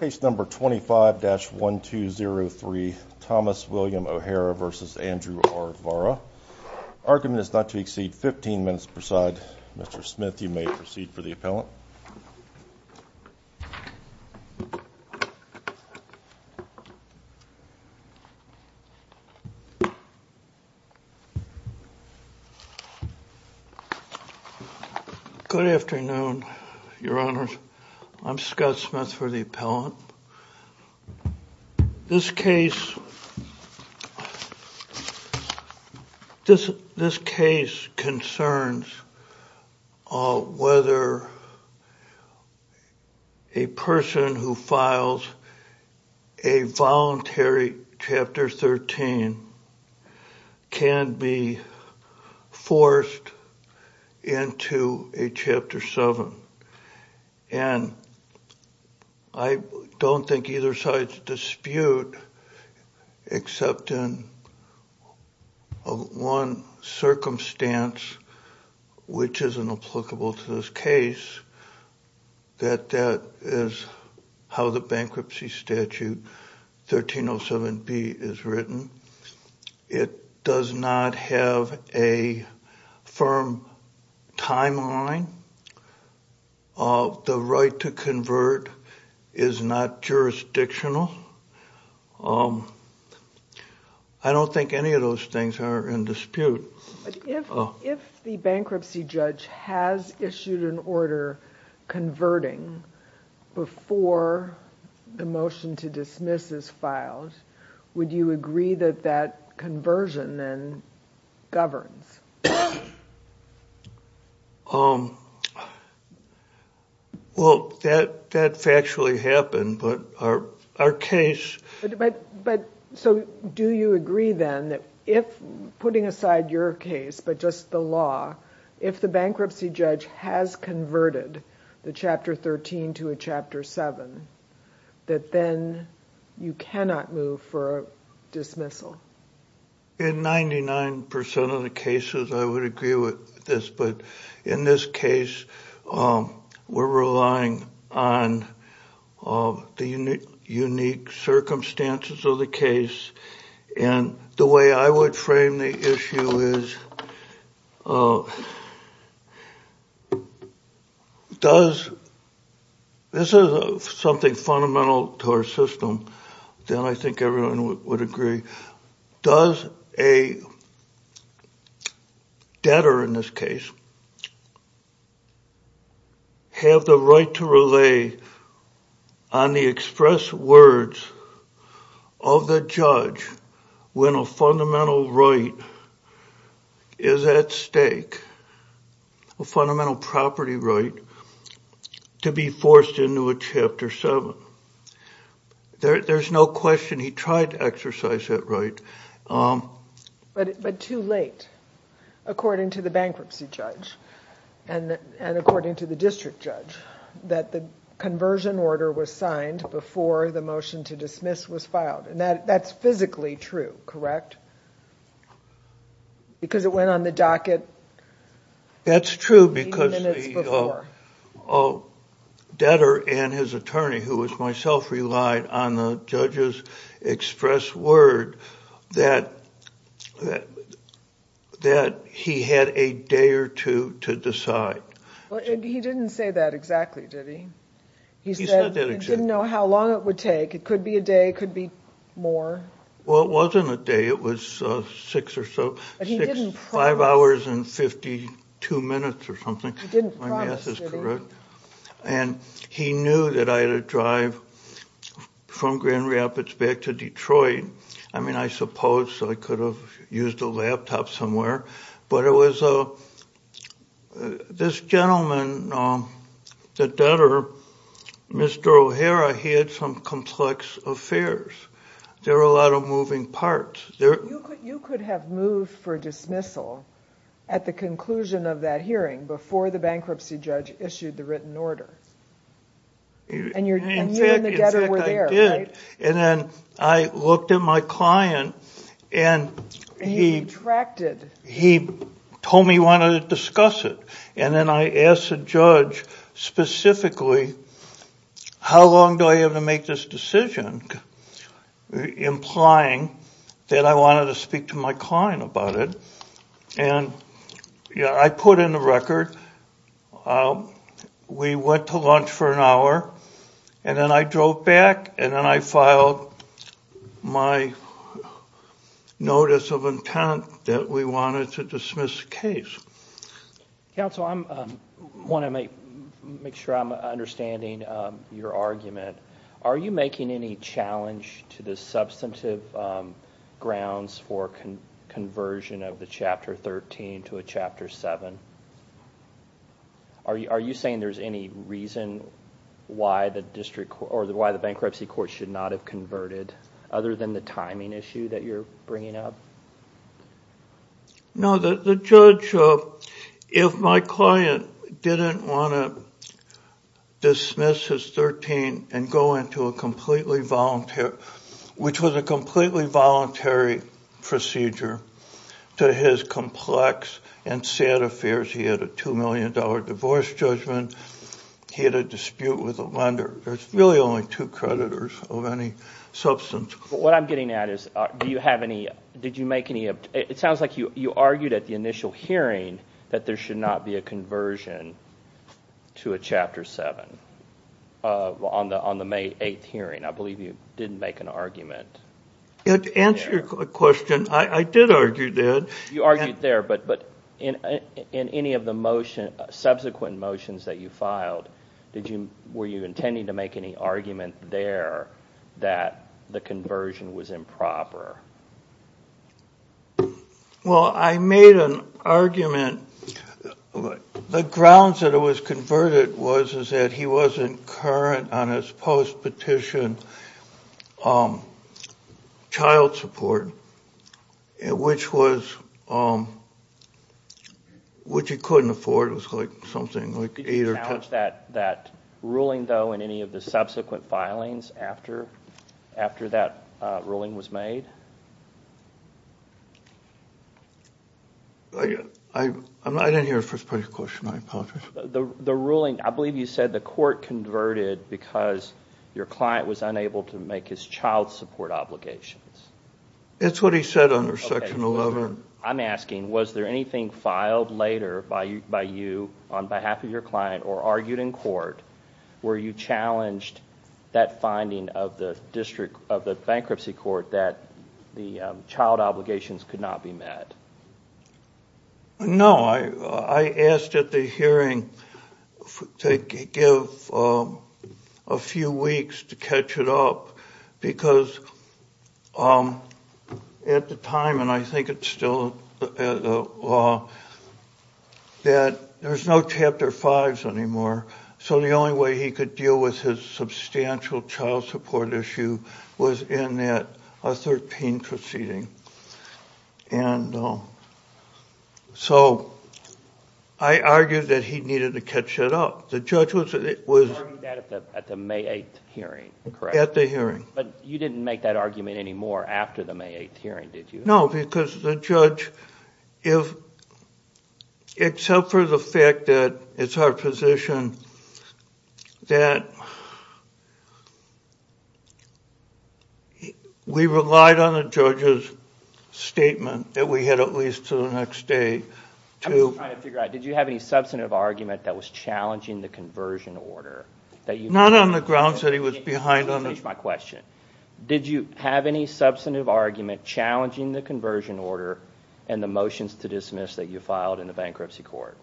Page number 25-1203 Thomas William OHara v. Andrew R Vara. Argument is not to exceed 15 minutes preside. Mr. Smith you may proceed for the appellant. Good afternoon, your honors. I'm Scott Smith for the appellant. This case, this this case concerns whether a person who files a voluntary chapter 13 can be forced into a chapter 7. And I don't think either side's dispute except in one circumstance, which is inapplicable to this case, that that is how the firm timeline of the right to convert is not jurisdictional. I don't think any of those things are in dispute. If the bankruptcy judge has issued an order converting before the motion to dismiss is filed, would you agree that that conversion then governs? Well, that factually happened, but our case... So do you agree then that if, putting aside your case, but just the law, if the bankruptcy judge has converted the chapter 13 to a chapter 7, that then you cannot move for a dismissal? In 99% of the cases I would agree with this, but in this case we're relying on the unique circumstances of the case. And the way I would frame the issue is, does... this is something fundamental to our system, then I think everyone would agree. Does a debtor, in this case, have the right to lay on the express words of the judge when a fundamental right is at stake, a fundamental property right, to be forced into a chapter 7? There's no question he tried to exercise that right. But too late, according to the bankruptcy judge and according to the district judge, that the conversion order was signed before the motion to dismiss was filed. That's physically true, correct? Because it went on the docket... That's true because the debtor and his attorney, who was myself, relied on the judge's express word that he had a day or two to decide. He didn't say that exactly, did he? He said he didn't know how long it would take. It could be a day, it could be more. Well, it wasn't a day, it was six or so, five hours and 52 minutes or something. And he knew that I had to drive from Grand Rapids back to Detroit. I mean, I suppose I could have used a laptop somewhere, but it was a... this gentleman, the debtor, Mr. O'Hara, he had some complex affairs. There were a lot of moving parts. You could have moved for dismissal at the conclusion of that hearing before the bankruptcy judge issued the written order. And you and the debtor were there, right? In fact, I did. And then I looked at my client and he told me he wanted to discuss it. And then I asked the judge specifically, how long do I have to make this decision, implying that I wanted to speak to my client about it. And yeah, I put in the record, we went to lunch for an hour and then I drove back and then I filed my notice of intent that we wanted to dismiss the case. Counsel, I want to make sure I'm understanding your argument. Are you making any challenge to the substantive grounds for conversion of the Chapter 13 to a Chapter 7? Are you saying there's any reason why the bankruptcy court should not have converted, other than the timing issue that you're making? I didn't want to dismiss his 13 and go into a completely voluntary, which was a completely voluntary procedure, to his complex and sad affairs. He had a two-million-dollar divorce judgment. He had a dispute with a lender. There's really only two creditors of any substance. What I'm getting at is, do you have any, did you make any, it sounds like you you argued at the initial hearing that there should not be a conversion to a Chapter 7 on the May 8th hearing. I believe you didn't make an argument. To answer your question, I did argue that. You argued there, but in any of the motion, subsequent motions that you filed, were you intending to make any argument there that the conversion was improper? Well, I made an argument. The grounds that it was converted was, is that he wasn't current on his post-petition child support, which he couldn't afford. It was like something like eight or ten. Did you challenge that ruling, though, in any of the subsequent filings after that ruling was made? I didn't hear the first part of your question. I apologize. The ruling, I believe you said the court converted because your client was unable to make his child support obligations. It's what he said under Section 11. I'm asking, was there anything filed later by you on behalf of your client, or argued in court, where you challenged that finding of the Bankruptcy Court that the child obligations could not be met? No, I asked at the hearing to give a few weeks to catch it up, because at the time, and I think it's still the law, that there's no Chapter 5s anymore, so the only way he could deal with his substantial child support issue was in that 13 proceeding, and so I argued that he needed to catch it up. The judge was... You argued that at the May 8th hearing, correct? At the hearing. But you didn't make that argument anymore after the May 8th hearing, did you? No, because the judge, if, except for the fact that it's our position that we relied on the judge's statement that we had at least to the next day to... I'm just trying to figure out, did you have any substantive argument that was challenging the conversion order? Not on the grounds that he was behind on the... Let me finish my question. Did you have any substantive argument challenging the conversion order and the motions to dismiss that you filed in the Bankruptcy Court?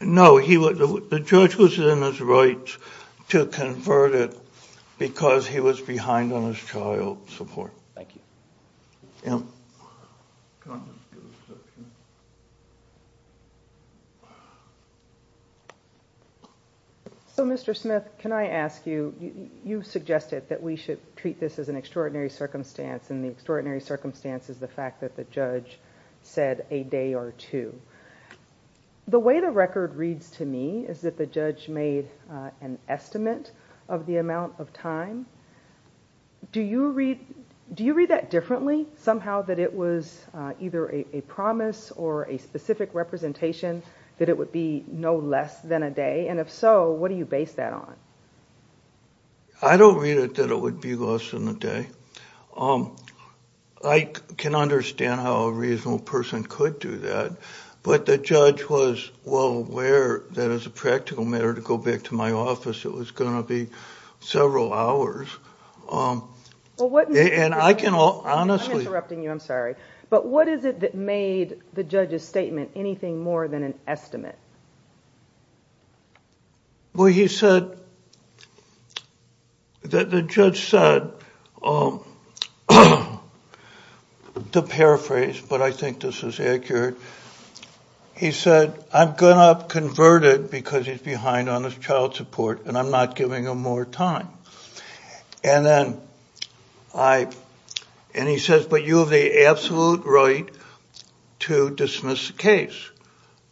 No, the judge was in his right to convert it because he was behind on his child support. Thank you. So Mr. Smith, can I ask you, you suggested that we should treat this as an extraordinary circumstance, and the extraordinary circumstance is the fact that the judge said a day or two. The way the record reads to me is that the judge made an estimate of the amount of time. Do you read that differently, somehow, that it was either a promise or a specific representation that it would be no less than a day? And if so, what do you base that on? I don't read it that it would be less than a day. I can understand how a reasonable person could do that, but the judge was well aware that as a practical matter, to go back to my office, it was going to be several hours. And I can honestly... I'm interrupting you, I'm sorry. But what is it that made the judge's statement anything more than an estimate? Well, he said that the judge said, to paraphrase, but I think this is accurate, he said, I'm going to convert it because he's behind on his child support and I'm not giving him more time. And he says, but you have the absolute right to dismiss the case.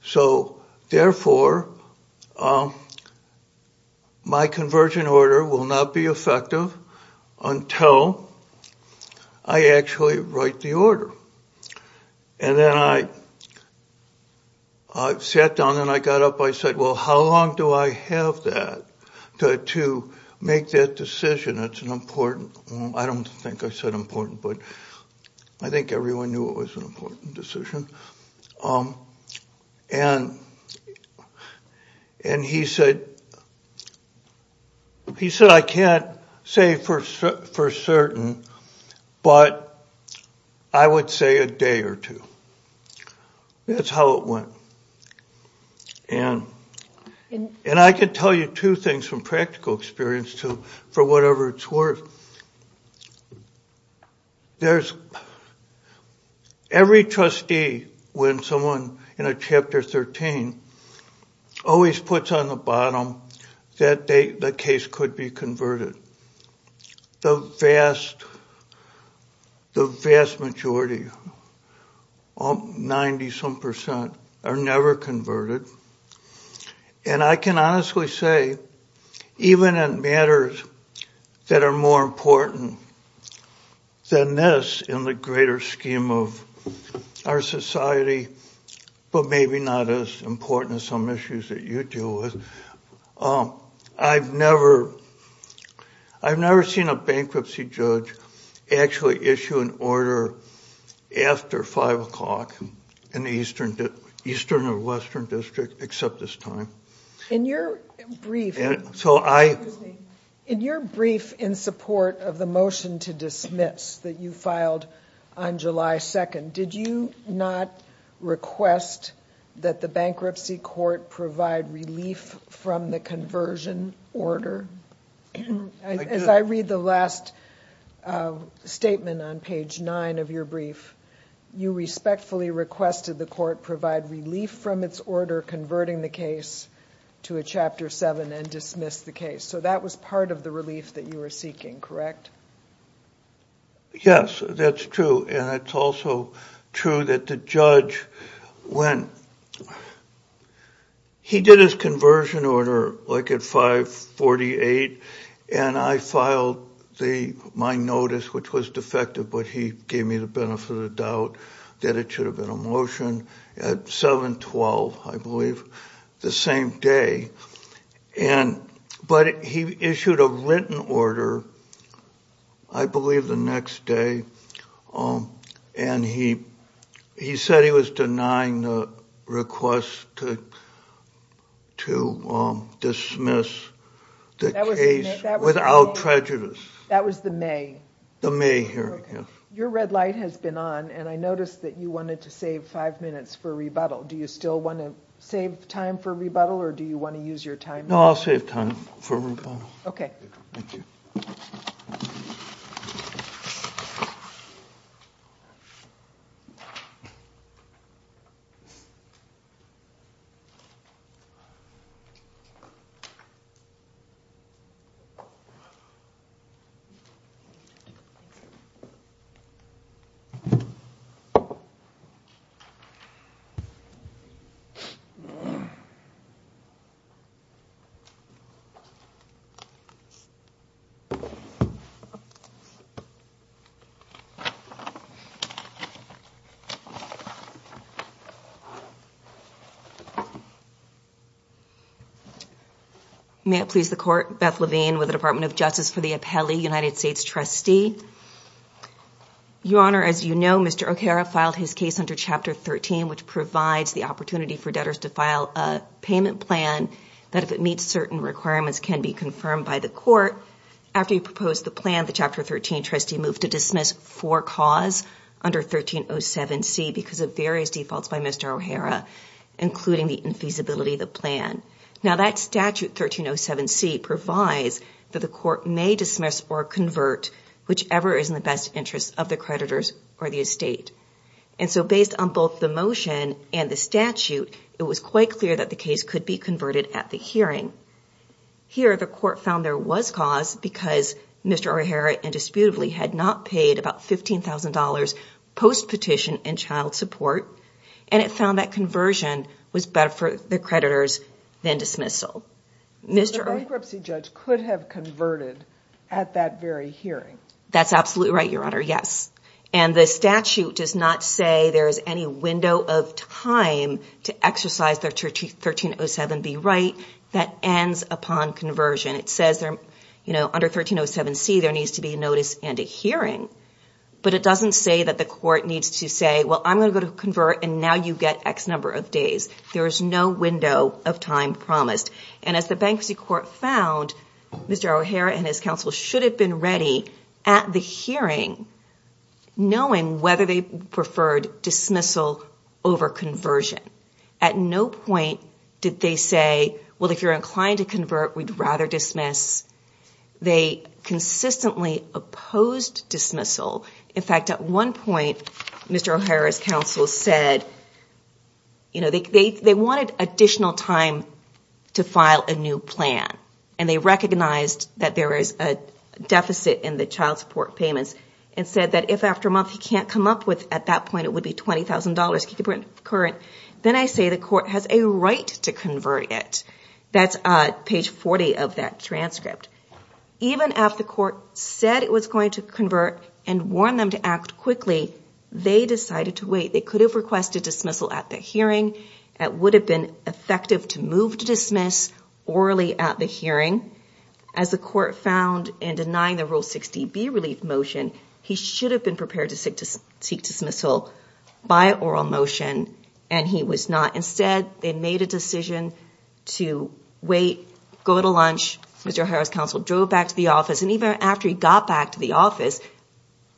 So therefore, my conversion order will not be effective until I actually write the order. And then I sat down and I got up, I said, well how long do I have that to make that decision? It's an important... I don't think I said important, but I think everyone knew it was an important decision. And he said, I can't say for certain, but I would say a day or two. That's how it went. And I could tell you two things from practical experience to for whatever it's worth. There's... every trustee, when someone in a Chapter 13, always puts on the bottom that the case could be converted. The vast majority, 90-some percent, are even in matters that are more important than this in the greater scheme of our society, but maybe not as important as some issues that you deal with. I've never seen a bankruptcy judge actually issue an order after five o'clock in the Eastern or Western District except this time. In your brief... so I... in your brief in support of the motion to dismiss that you filed on July 2nd, did you not request that the bankruptcy court provide relief from the conversion order? As I read the last statement on page 9 of your brief, you respectfully requested the court provide relief from its order converting the case to a Chapter 7 and dismiss the case. So that was part of the relief that you were seeking, correct? Yes, that's true, and it's also true that the judge went... he did his conversion order like at 548, and I filed my notice, which was defective, but he gave me the benefit of the doubt that it would have been a motion at 7-12, I believe, the same day, and... but he issued a written order, I believe the next day, and he said he was denying the request to dismiss the case without prejudice. That was the May? The May hearing, yes. Your red light has been on, and I noticed that you wanted to save five minutes for rebuttal. Do you still want to save time for rebuttal, or do you want to use your time? No, I'll save time for rebuttal. Okay. May it please the court, Beth Levine with the Department of Justice for the Your Honor, as you know, Mr. O'Hara filed his case under Chapter 13, which provides the opportunity for debtors to file a payment plan that if it meets certain requirements can be confirmed by the court. After he proposed the plan, the Chapter 13 trustee moved to dismiss for cause under 1307C because of various defaults by Mr. O'Hara, including the infeasibility of the plan. Now that statute 1307C provides that the court may dismiss or convert whichever is in the best interest of the creditors or the estate, and so based on both the motion and the statute, it was quite clear that the case could be converted at the hearing. Here, the court found there was cause because Mr. O'Hara indisputably had not paid about $15,000 post-petition and child support, and it found that conversion was better for the creditors than dismissal. The bankruptcy judge could have converted at that very hearing. That's absolutely right, Your Honor, yes, and the statute does not say there is any window of time to exercise the 1307B right that ends upon conversion. It says there, you know, under 1307C there needs to be a notice and a hearing, but it doesn't say that the court needs to say, well I'm going to convert and now you get X number of days. There is no window of time promised, and as the bankruptcy court found, Mr. O'Hara and his counsel should have been ready at the hearing knowing whether they preferred dismissal over conversion. At no point did they say, well if you're inclined to convert, we'd rather dismiss. They consistently opposed dismissal. In fact, they wanted additional time to file a new plan, and they recognized that there is a deficit in the child support payments and said that if after a month he can't come up with, at that point it would be $20,000, keep it current, then I say the court has a right to convert it. That's page 40 of that transcript. Even after the court said it was going to convert and warned them to act quickly, they decided to wait. They could have requested dismissal at the hearing, it would have been effective to move to dismiss orally at the hearing. As the court found in denying the Rule 60B relief motion, he should have been prepared to seek dismissal by oral motion, and he was not. Instead, they made a decision to wait, go to lunch, Mr. O'Hara's counsel drove back to the office, and even after he got back to the office,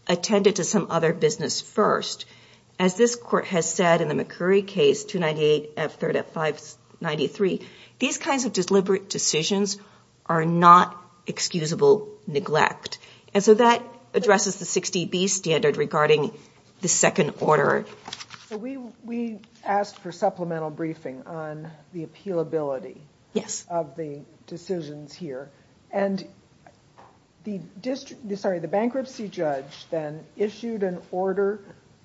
attended to some other business first. As this court has said in the McCurry case, 298 F3rd at 593, these kinds of deliberate decisions are not excusable neglect. And so that addresses the 60B standard regarding the second order. We asked for supplemental briefing on the appealability of the decisions here, and the bankruptcy judge then issued an order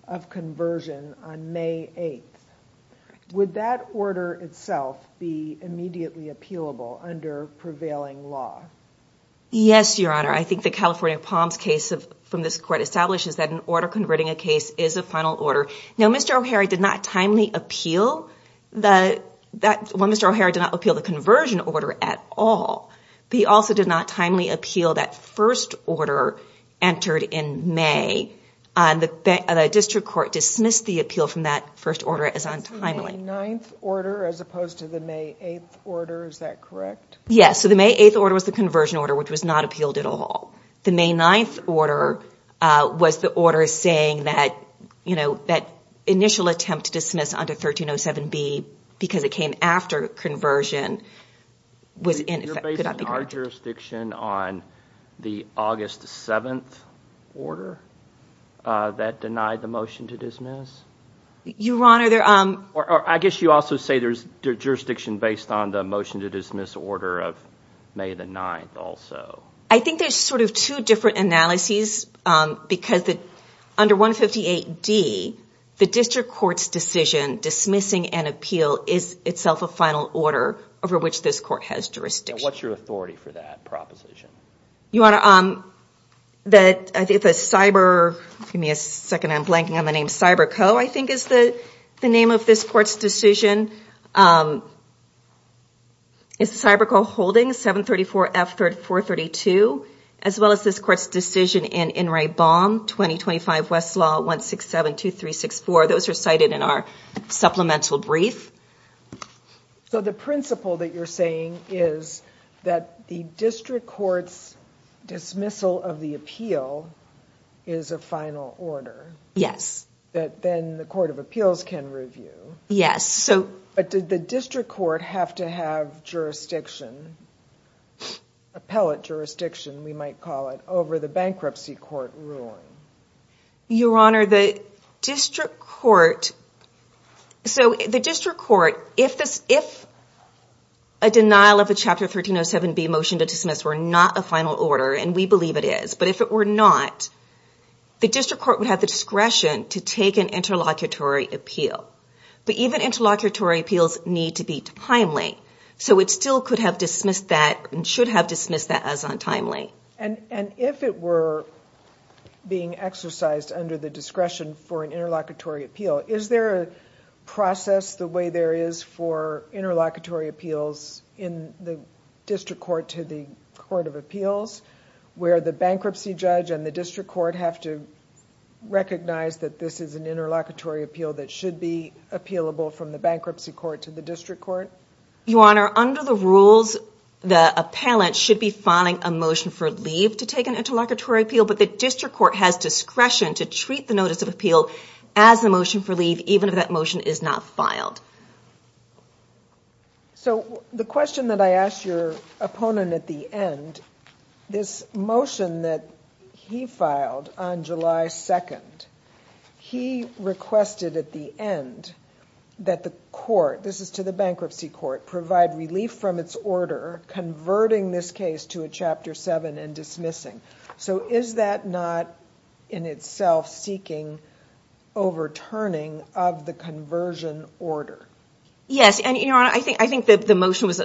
of conversion on May 8th. Would that order itself be immediately appealable under prevailing law? Yes, Your Honor. I think the California Palms case from this court establishes that an order converting a case is a final order. Now, Mr. O'Hara did not timely appeal the conversion order at all. He also did not timely appeal that first order entered in May, and the district court dismissed the appeal from that first order as untimely. The May 9th order as opposed to the May 8th order, is that correct? Yes, so the May 8th order was the conversion order, which was not appealed at all. The May 9th order was the order saying that, you know, that initial attempt to dismiss under 1307B because it came after conversion was ineffective. You're basing our jurisdiction on the August 7th order that denied the motion to dismiss? Your Honor, I guess you also say there's jurisdiction based on the motion to dismiss order of May the 9th also. I think there's sort of two different analyses because under 158D, the district court's decision dismissing an appeal is itself a final order over which this court has jurisdiction. What's your authority for that proposition? Your Honor, I think the Cyber, give me a second, I'm blanking on the name, Cyberco, I think is the name of this court's decision. It's Cyberco holding 734F432, as well as this court's decision in Enright Baum 2025 Westlaw 1672364. Those are cited in our supplemental brief. So the principle that you're saying is that the district court's dismissal of the appeal is a final order? Yes. That then the Court of Appeals can review? Yes. But did the district court have to have jurisdiction, appellate jurisdiction, we might call it, over the bankruptcy court ruling? Your Honor, so the district court, if a denial of the Chapter 1307B motion to dismiss were not a final order, and we believe it is, but if it were not, the district court would have the discretion to take an interlocutory appeal. But even interlocutory appeals need to be timely, so it still could have dismissed that, and should have dismissed that as untimely. And if it were being exercised under the discretion for an interlocutory appeal, is there a process the way there is for interlocutory appeals in the district court to the Court of Appeals, where the bankruptcy judge and the district court have to recognize that this is an interlocutory appeal that should be appealable from the bankruptcy court to the district court? Your Honor, under the rules, the appellant should be filing a motion for leave to take an interlocutory appeal, but the district court has discretion to treat the notice of appeal as a motion for leave, even if that motion is not filed. So the question that I asked your opponent at the end, this motion that he filed on July 2nd, he requested at the end that the court, this is to the bankruptcy court, provide relief from its order converting this case to a Chapter 7 and dismissing. So is that not in itself seeking overturning of the conversion order? Yes, and your Honor, I think that the motion was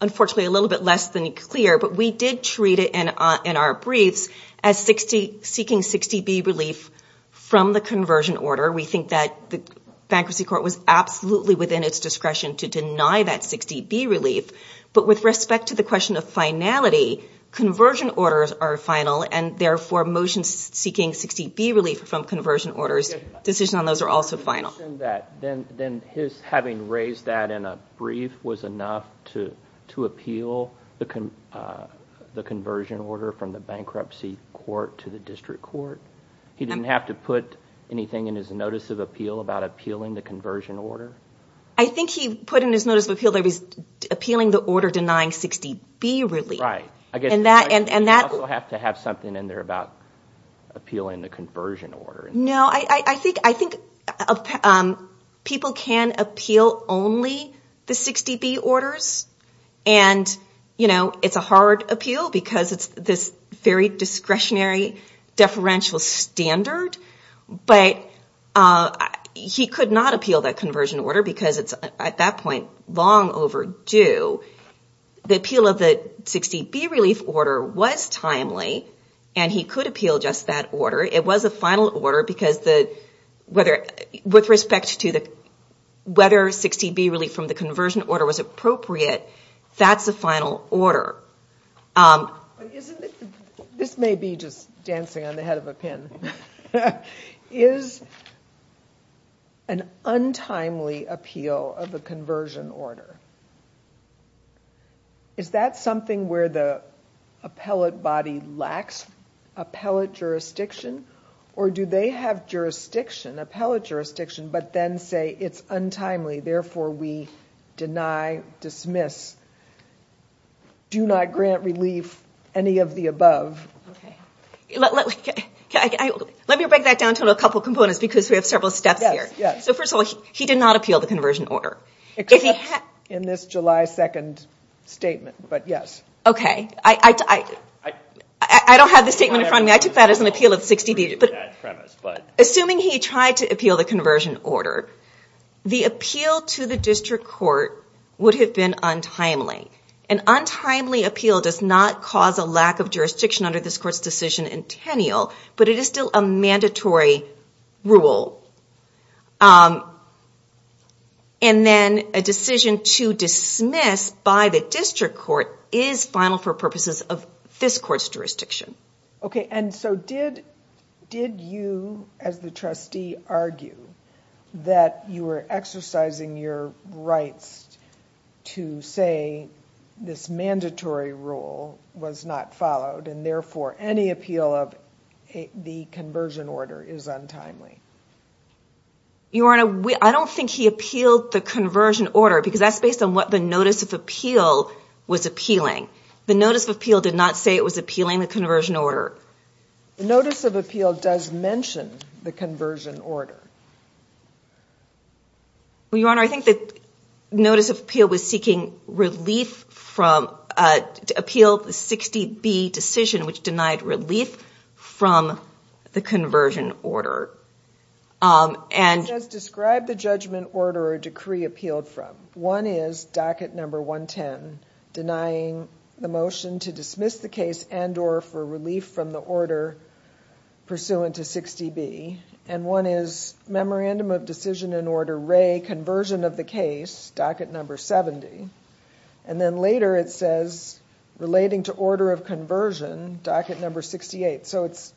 unfortunately a little bit less than clear, but we did treat it in our briefs as seeking 60B relief from the conversion order. We think that the bankruptcy court was absolutely within its discretion to deny that 60B relief, but with respect to the question of finality, conversion orders are final and therefore motions seeking 60B relief from conversion orders, decisions on those are also final. Then his having raised that in a brief was enough to appeal the conversion order from the bankruptcy court to the district court? He didn't have to put anything in his notice of appeal about appealing the conversion order? I think he put in his notice of appeal that he was appealing the order denying 60B relief. Right, I guess you also have to have something in there about appealing the conversion order. No, I think people can appeal only the 60B orders, and you know, it's a hard appeal because it's this very discretionary deferential standard, but he could not appeal the conversion order because it's at that point long overdue. The appeal of the 60B relief order was timely, and he could appeal just that order. It was a final order because with respect to whether 60B relief from the conversion order was appropriate, that's a final order. This may be just dancing on the head of a pin. Is an untimely appeal of the conversion order, is that something where the appellate body lacks appellate jurisdiction, or do they have jurisdiction, appellate jurisdiction, but then say it's untimely, therefore we deny, dismiss, do not grant relief, any of the above? Let me break that down into a couple of components because we have several steps here. So first of all, he did not appeal the conversion order. Except in this July 2nd statement, but yes. Okay, I don't have the statement in front of me. I took that as an appeal of 60B, but assuming he tried to appeal the conversion order, the appeal to the district court would have been untimely. An untimely appeal does not cause a lack of jurisdiction under this court's decision in Tenniel, but it is still a mandatory rule. And then a decision to dismiss by the district court is final for purposes of this court's jurisdiction. Okay, and so did you as the trustee argue that you were exercising your rights to say this mandatory rule was not followed and therefore any appeal of the conversion order is untimely? Your Honor, I don't think he appealed the conversion order because that's based on what the notice of appeal was appealing. The notice of appeal did not say it was appealing the conversion order. The notice of appeal does mention the conversion order. Well, Your Honor, I think the notice of appeal was seeking relief from, to appeal the 60B decision, which denied relief from the conversion order. And Who does describe the judgment order or decree appealed from? One is docket number 110, denying the motion to dismiss the case and or for relief from the order pursuant to 60B. And one is memorandum of decision in order ray conversion of the case, docket number 70. And then later it says relating to order of conversion, docket number 68. So it's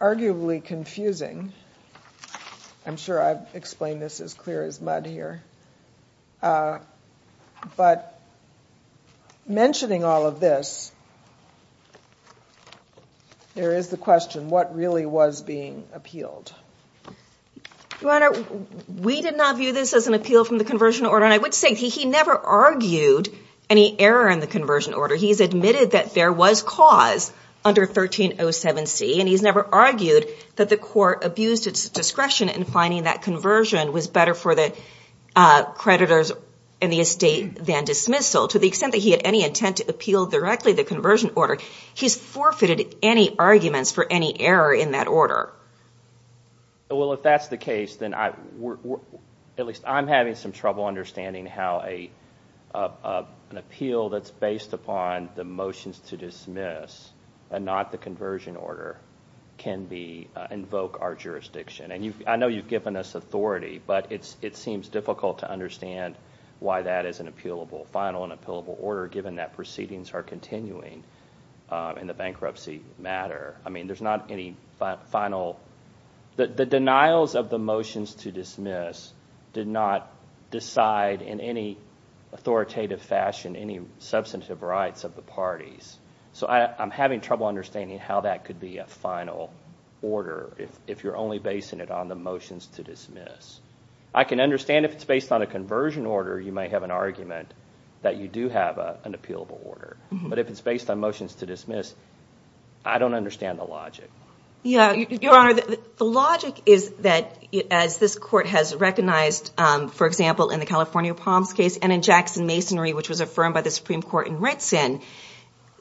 arguably confusing. I'm sure I've explained this as clear as mud here. Uh, but mentioning all of this, there is the question, what really was being appealed? Your Honor, we did not view this as an appeal from the conversion order. And I would say he never argued any error in the conversion order. He's admitted that there was cause under 1307C and he's never argued that the court abused its discretion in finding that conversion was better for the creditors in the estate than dismissal. To the extent that he had any intent to appeal directly the conversion order, he's forfeited any arguments for any error in that order. Well, if that's the case, then at least I'm having some trouble understanding how an appeal that's based upon the motions to dismiss and not the conversion order can be, invoke our jurisdiction. And I know you've given us authority, but it seems difficult to understand why that is an appealable, final and appealable order given that proceedings are continuing in the bankruptcy matter. I mean, there's not any final, the denials of the motions to dismiss did not decide in any authoritative fashion any substantive rights of the parties. So I'm having trouble understanding how that could be a final order if you're only basing it on the motions to dismiss. I can understand if it's based on a conversion order, you may have an argument that you do have an appealable order. But if it's based on motions to dismiss, I don't understand the logic. Yeah, Your Honor, the logic is that as this Court has recognized, for example, in the California Palms case and in Jackson Masonry, which was affirmed by the Supreme Court in Ritson,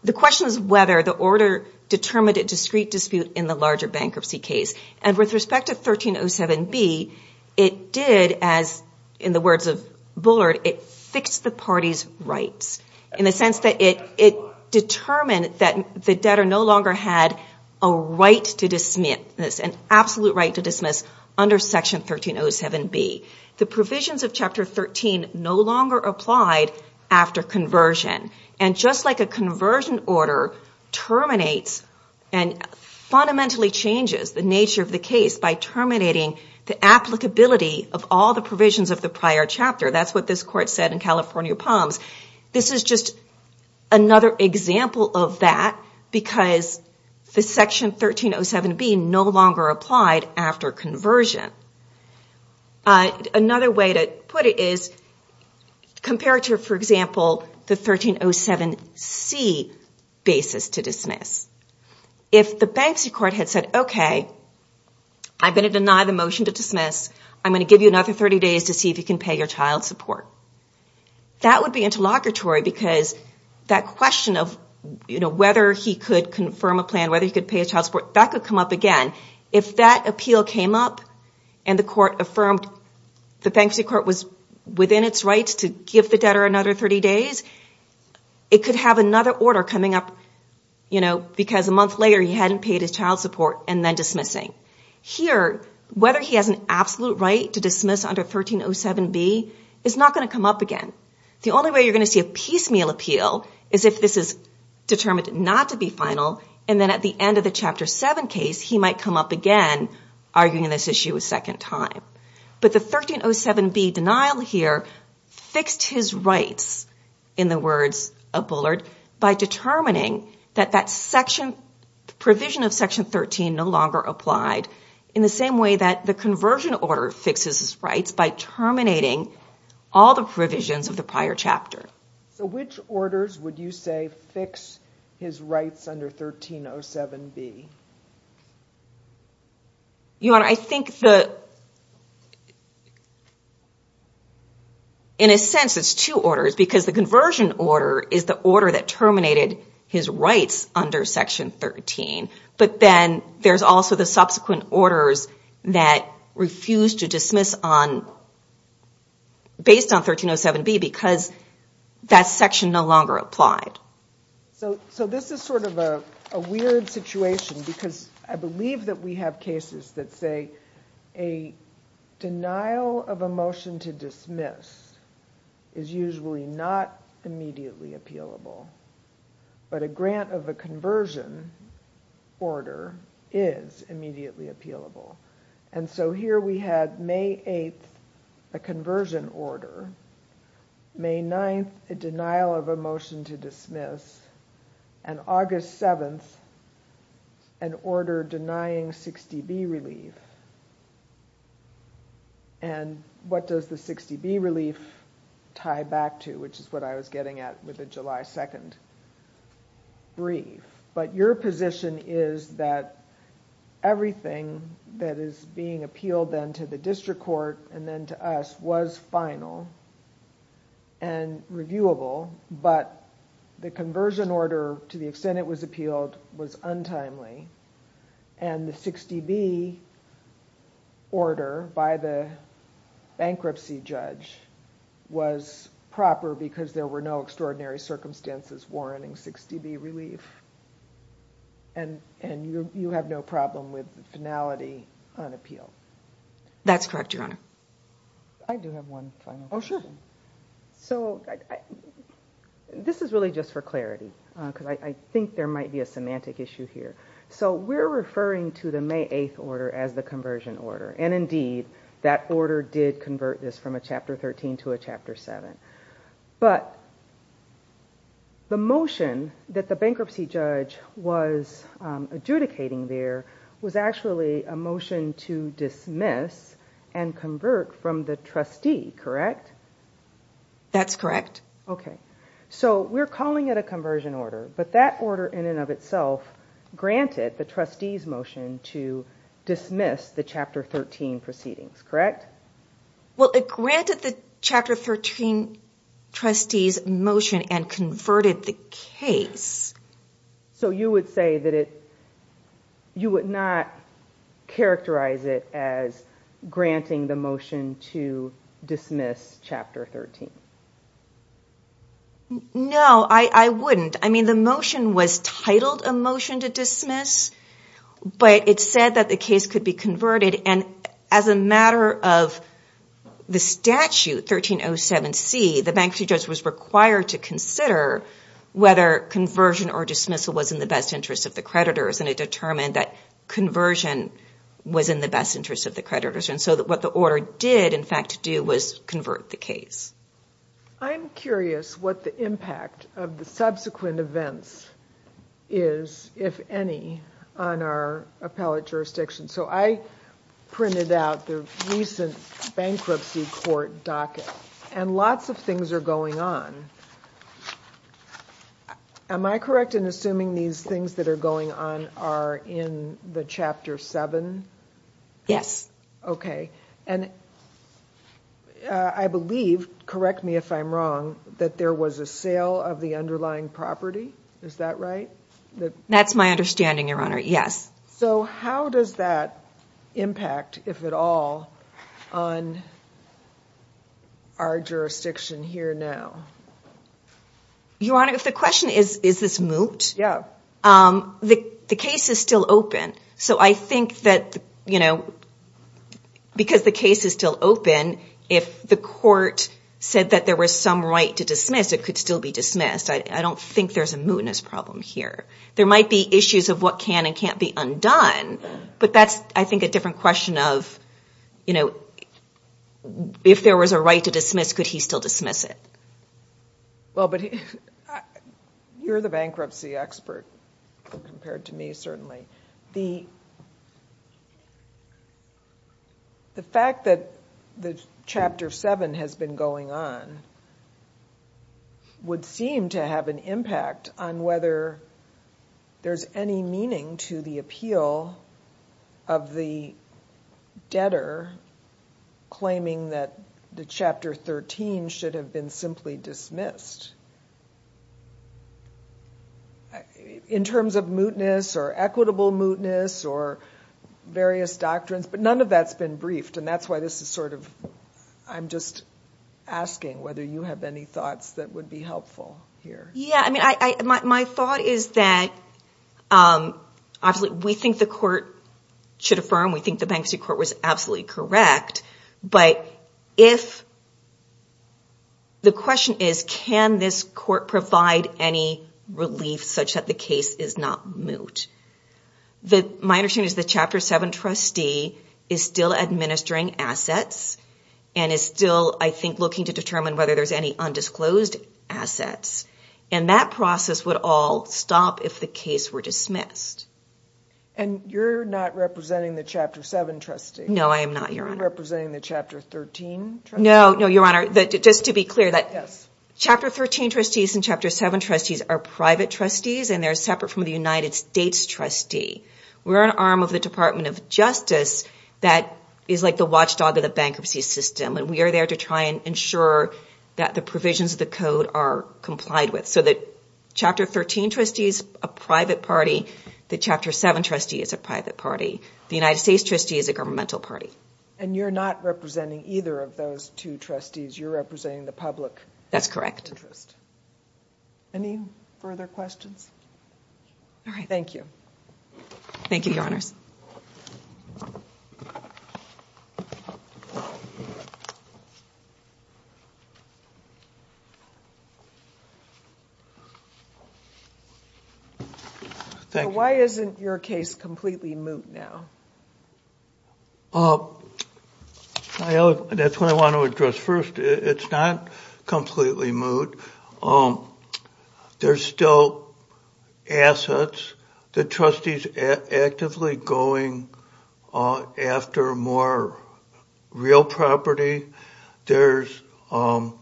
the question is whether the order determined a discrete dispute in the larger bankruptcy case. And with respect to 1307B, it did, as in the words of Bullard, it fixed the party's rights in the sense that it determined that the debtor no longer had a right to dismiss, an absolute right to dismiss under Section 1307B. The provisions of Chapter 13 no longer applied after conversion. And just like a conversion order terminates and fundamentally changes the nature of the case by terminating the applicability of all the provisions of the prior chapter, that's what this Court said in California Palms, this is just another example of that because Section 1307B no longer applied after conversion. Another way to put it is, compare it to, for example, the 1307C basis to dismiss. If the bankruptcy court had said, okay, I'm going to deny the motion to dismiss. I'm going to give you another 30 days to see if you can pay your child support. That would be interlocutory because that question of whether he could confirm a plan, whether he could pay his child support, that could come up again. If that appeal came up and the bankruptcy court was within its rights to give the debtor another 30 days, it could have another order coming up because a month later he hadn't paid his child support and then dismissing. Here, whether he has an absolute right to dismiss under 1307B is not going to come up again. The only way you're going to see a piecemeal appeal is if this is determined not to be final and then at the end of the Chapter 7 case he might come up again arguing this issue a second time. But the 1307B denial here fixed his rights in the words of Bullard by determining that that provision of Section 13 no longer applied in the same way that the conversion order fixes his rights by terminating all the provisions of the prior chapter. Which orders would you say fix his rights under 1307B? In a sense it's two orders because the conversion order is the order that terminated his rights under Section 13, but then there's also the subsequent orders that refused to dismiss based on 1307B because that section no longer applied. So this is sort of a weird situation because I believe that we have cases that say a denial of a motion to dismiss is usually not immediately appealable, but a grant of a conversion order is immediately appealable. So here we had May 8th a conversion order, May 9th a denial of a motion to dismiss, and August 7th an order denying 60B relief. What does the 60B relief tie back to, which is what I was getting at with the July 2nd brief. But your position is that everything that is being appealed then to the district court and then to us was final and reviewable, but the conversion order to the extent it was appealed was untimely, and the 60B order by the bankruptcy judge was proper because there were no extraordinary circumstances warranting 60B relief, and you have no problem with finality on appeal? That's correct, Your Honor. I do have one final question. This is really just for clarity because I think there might be a semantic issue here. So we're referring to the May 8th order as the conversion order, and indeed that order did convert this from a Chapter 13 to a Chapter 7, but the motion that the bankruptcy judge was adjudicating there was actually a motion to dismiss and convert from the trustee, correct? That's correct. So we're calling it a conversion order, but that order in and of itself granted the trustee's motion to dismiss the Chapter 13 proceedings, correct? Well, it granted the Chapter 13 trustee's motion and converted the case. So you would say that you would not characterize it as granting the motion to dismiss Chapter 13? No, I wouldn't. I mean the motion was titled a motion to dismiss, but it said that the case could be converted, and as a matter of the statute 1307C, the bankruptcy judge was required to consider whether conversion or dismissal was in the best interest of the creditors, and it determined that conversion was in the best interest of the creditors, and so what the order did in fact do was convert the case. I'm curious what the impact of the subsequent events is, if any, on our appellate jurisdiction. So I printed out the recent bankruptcy court docket, and lots of things are going on. Am I correct in assuming these things that are going on are in the Chapter 7? Yes. Okay, and I believe, correct me if I'm wrong, that there was a sale of the underlying property? Is that right? That's my understanding, Your Honor, yes. So how does that impact, if at all, on our jurisdiction here now? Your Honor, if the question is, is this moot? Yeah. The case is still open, so I think that, you know, because the case is still open, if the court said that there was some right to dismiss, it could still be dismissed. I don't think there's a mootness problem here. There might be issues of what can and can't be undone, but that's, I think, a different question of, you know, if there was a right to dismiss, could he still dismiss it? Well, but you're the bankruptcy expert compared to me, certainly. The fact that Chapter 7 has been going on would seem to have an impact on whether there's any meaning to the appeal of the debtor claiming that the Chapter 13 should have been simply dismissed. In terms of mootness or equitable mootness or various doctrines, but none of that's been briefed, and that's why this is sort of, I'm just asking whether you have any thoughts that would be helpful here. Yeah, I mean, my thought is that, obviously, we think the court should affirm, we think the bankruptcy court was absolutely correct, but if... The question is, can this court provide any relief such that the case is not moot? My understanding is the Chapter 7 trustee is still administering assets and is still, I think, looking to determine whether there's any undisclosed assets, and that process would all stop if the case were dismissed. And you're not representing the Chapter 7 trustee? No, I am not, Your Honor. You're representing the Chapter 13 trustee? No, no, Your Honor. Just to be clear, that Chapter 13 trustees and Chapter 7 trustees are private trustees, and they're separate from the United States trustee. We're an arm of the Department of Justice that is like the watchdog of the bankruptcy system, and we are there to try and ensure that the provisions of the code are complied with, so that Chapter 13 trustee is a private party, the Chapter 7 trustee is a private party, the United States trustee is a governmental party. And you're not representing either of those two trustees, you're representing the public interest? That's correct. Any further questions? All right. Thank you. Thank you, Your Honors. Thank you. Why isn't your case completely moot now? That's what I want to address first. It's not completely moot. There's still assets. The trustee's actively going after more real property. There's also,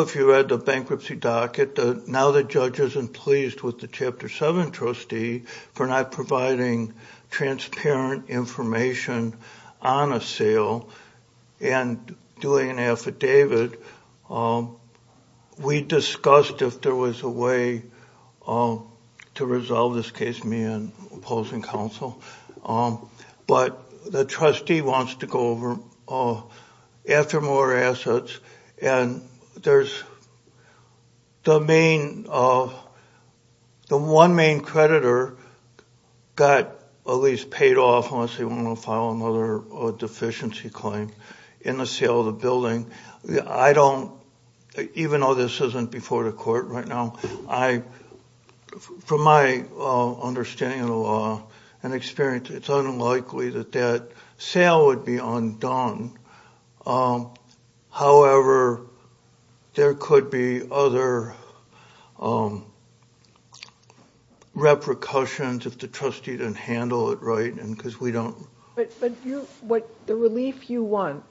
if you read the bankruptcy docket, now the judge isn't pleased with the Chapter 7 trustee for not providing transparent information on a sale and doing an affidavit. We discussed if there was a way to resolve this case, me and opposing counsel. But the trustee wants to go after more assets, and the one main creditor got at least paid off unless they want to file another deficiency claim in the sale of the building. Even though this isn't before the court right now, from my understanding of the law and experience, it's unlikely that that sale would be undone. However, there could be other repercussions if the trustee didn't handle it right. But the relief you want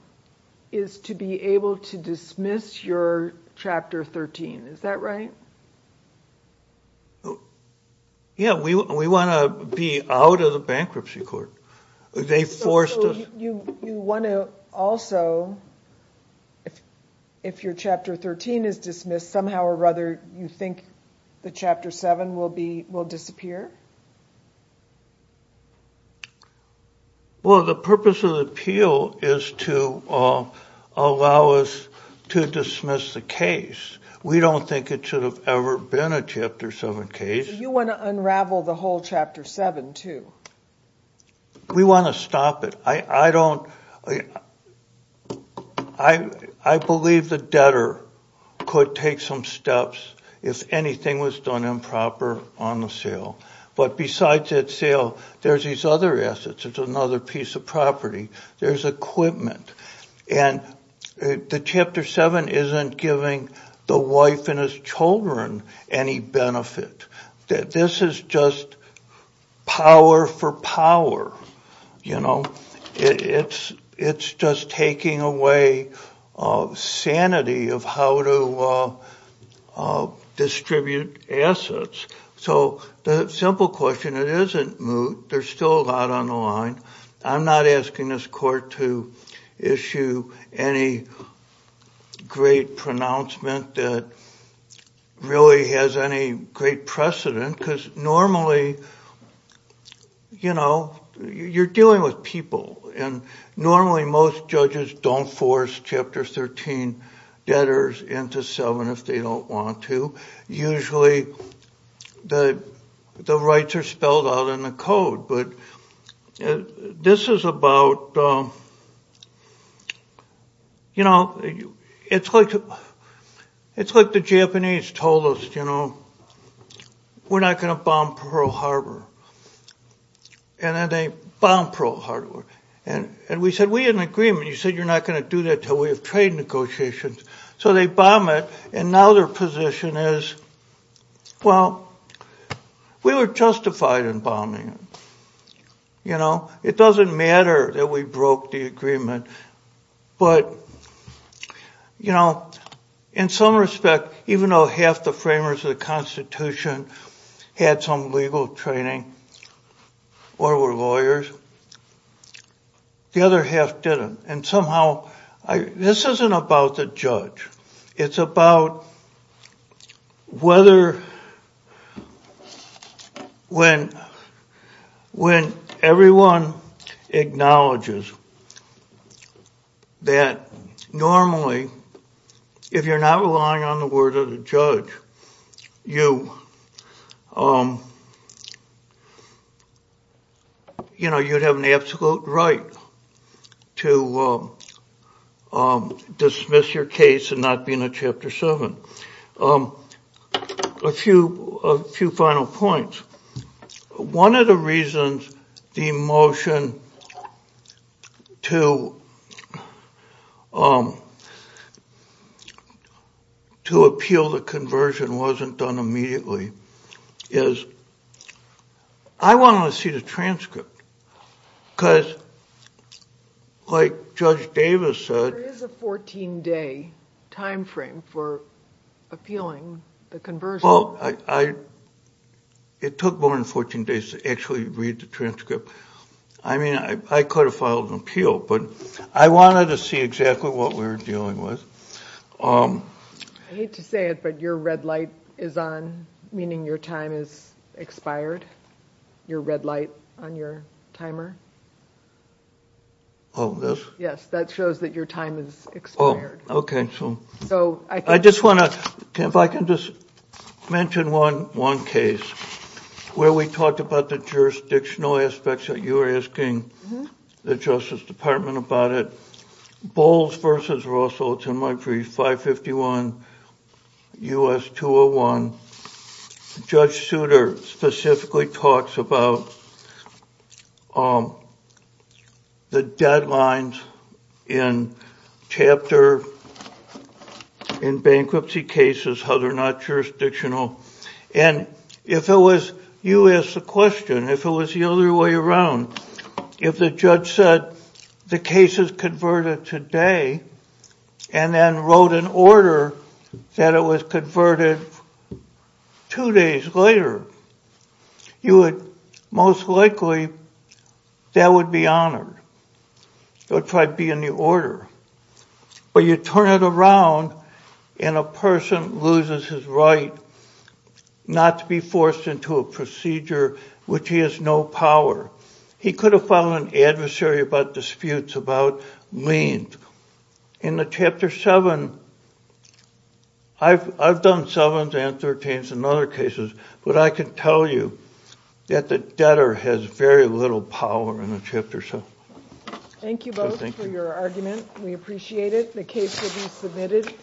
is to be able to dismiss your Chapter 13, is that right? Yeah, we want to be out of the bankruptcy court. They forced us. You want to also, if your Chapter 13 is dismissed, somehow or other you think the Chapter 7 will disappear? Well, the purpose of the appeal is to allow us to dismiss the case. We don't think it should have ever been a Chapter 7 case. You want to unravel the whole Chapter 7, too? We want to stop it. I believe the debtor could take some steps if anything was done improper on the sale. But besides that sale, there's these other assets. It's another piece of property. There's equipment. And the Chapter 7 isn't giving the wife and his children any benefit. This is just power for power. It's just taking away sanity of how to distribute assets. So the simple question, it isn't moot. There's still a lot on the line. I'm not asking this court to issue any great pronouncement that really has any great precedent. Because normally, you know, you're dealing with people. And normally most judges don't force Chapter 13 debtors into 7 if they don't want to. Usually the rights are spelled out in the code. But this is about, you know, it's like the Japanese told us, you know, we're not going to bomb Pearl Harbor. And then they bombed Pearl Harbor. And we said we had an agreement. You said you're not going to do that until we have trade negotiations. So they bomb it. And now their position is, well, we were justified in bombing it. You know, it doesn't matter that we broke the agreement. But, you know, in some respect, even though half the framers of the Constitution had some legal training or were lawyers, the other half didn't. And somehow this isn't about the judge. It's about whether when everyone acknowledges that normally if you're not relying on the word of the judge, you know, you'd have an absolute right to dismiss your case and not be in a Chapter 7. A few final points. One of the reasons the motion to appeal the conversion wasn't done immediately is I wanted to see the transcript. Because like Judge Davis said. There is a 14-day time frame for appealing the conversion. Well, it took more than 14 days to actually read the transcript. I mean, I could have filed an appeal. But I wanted to see exactly what we were dealing with. I hate to say it, but your red light is on, meaning your time is expired. Your red light on your timer. Oh, this? Yes, that shows that your time is expired. Oh, okay. I just want to, if I can just mention one case where we talked about the jurisdictional aspects that you were asking the Justice Department about it. Bowles v. Russell, it's in my brief, 551 U.S. 201. Judge Souter specifically talks about the deadlines in Chapter, in bankruptcy cases, how they're not jurisdictional. And if it was, you asked the question, if it was the other way around, if the judge said the case is converted today and then wrote an order that it was converted two days later, you would most likely, that would be honored. It would try to be in the order. But you turn it around and a person loses his right not to be forced into a procedure which he has no power. He could have filed an adversary about disputes about liens. In the Chapter 7, I've done 7s and 13s in other cases, but I can tell you that the debtor has very little power in the Chapter 7. Thank you both for your argument. We appreciate it. The case will be submitted.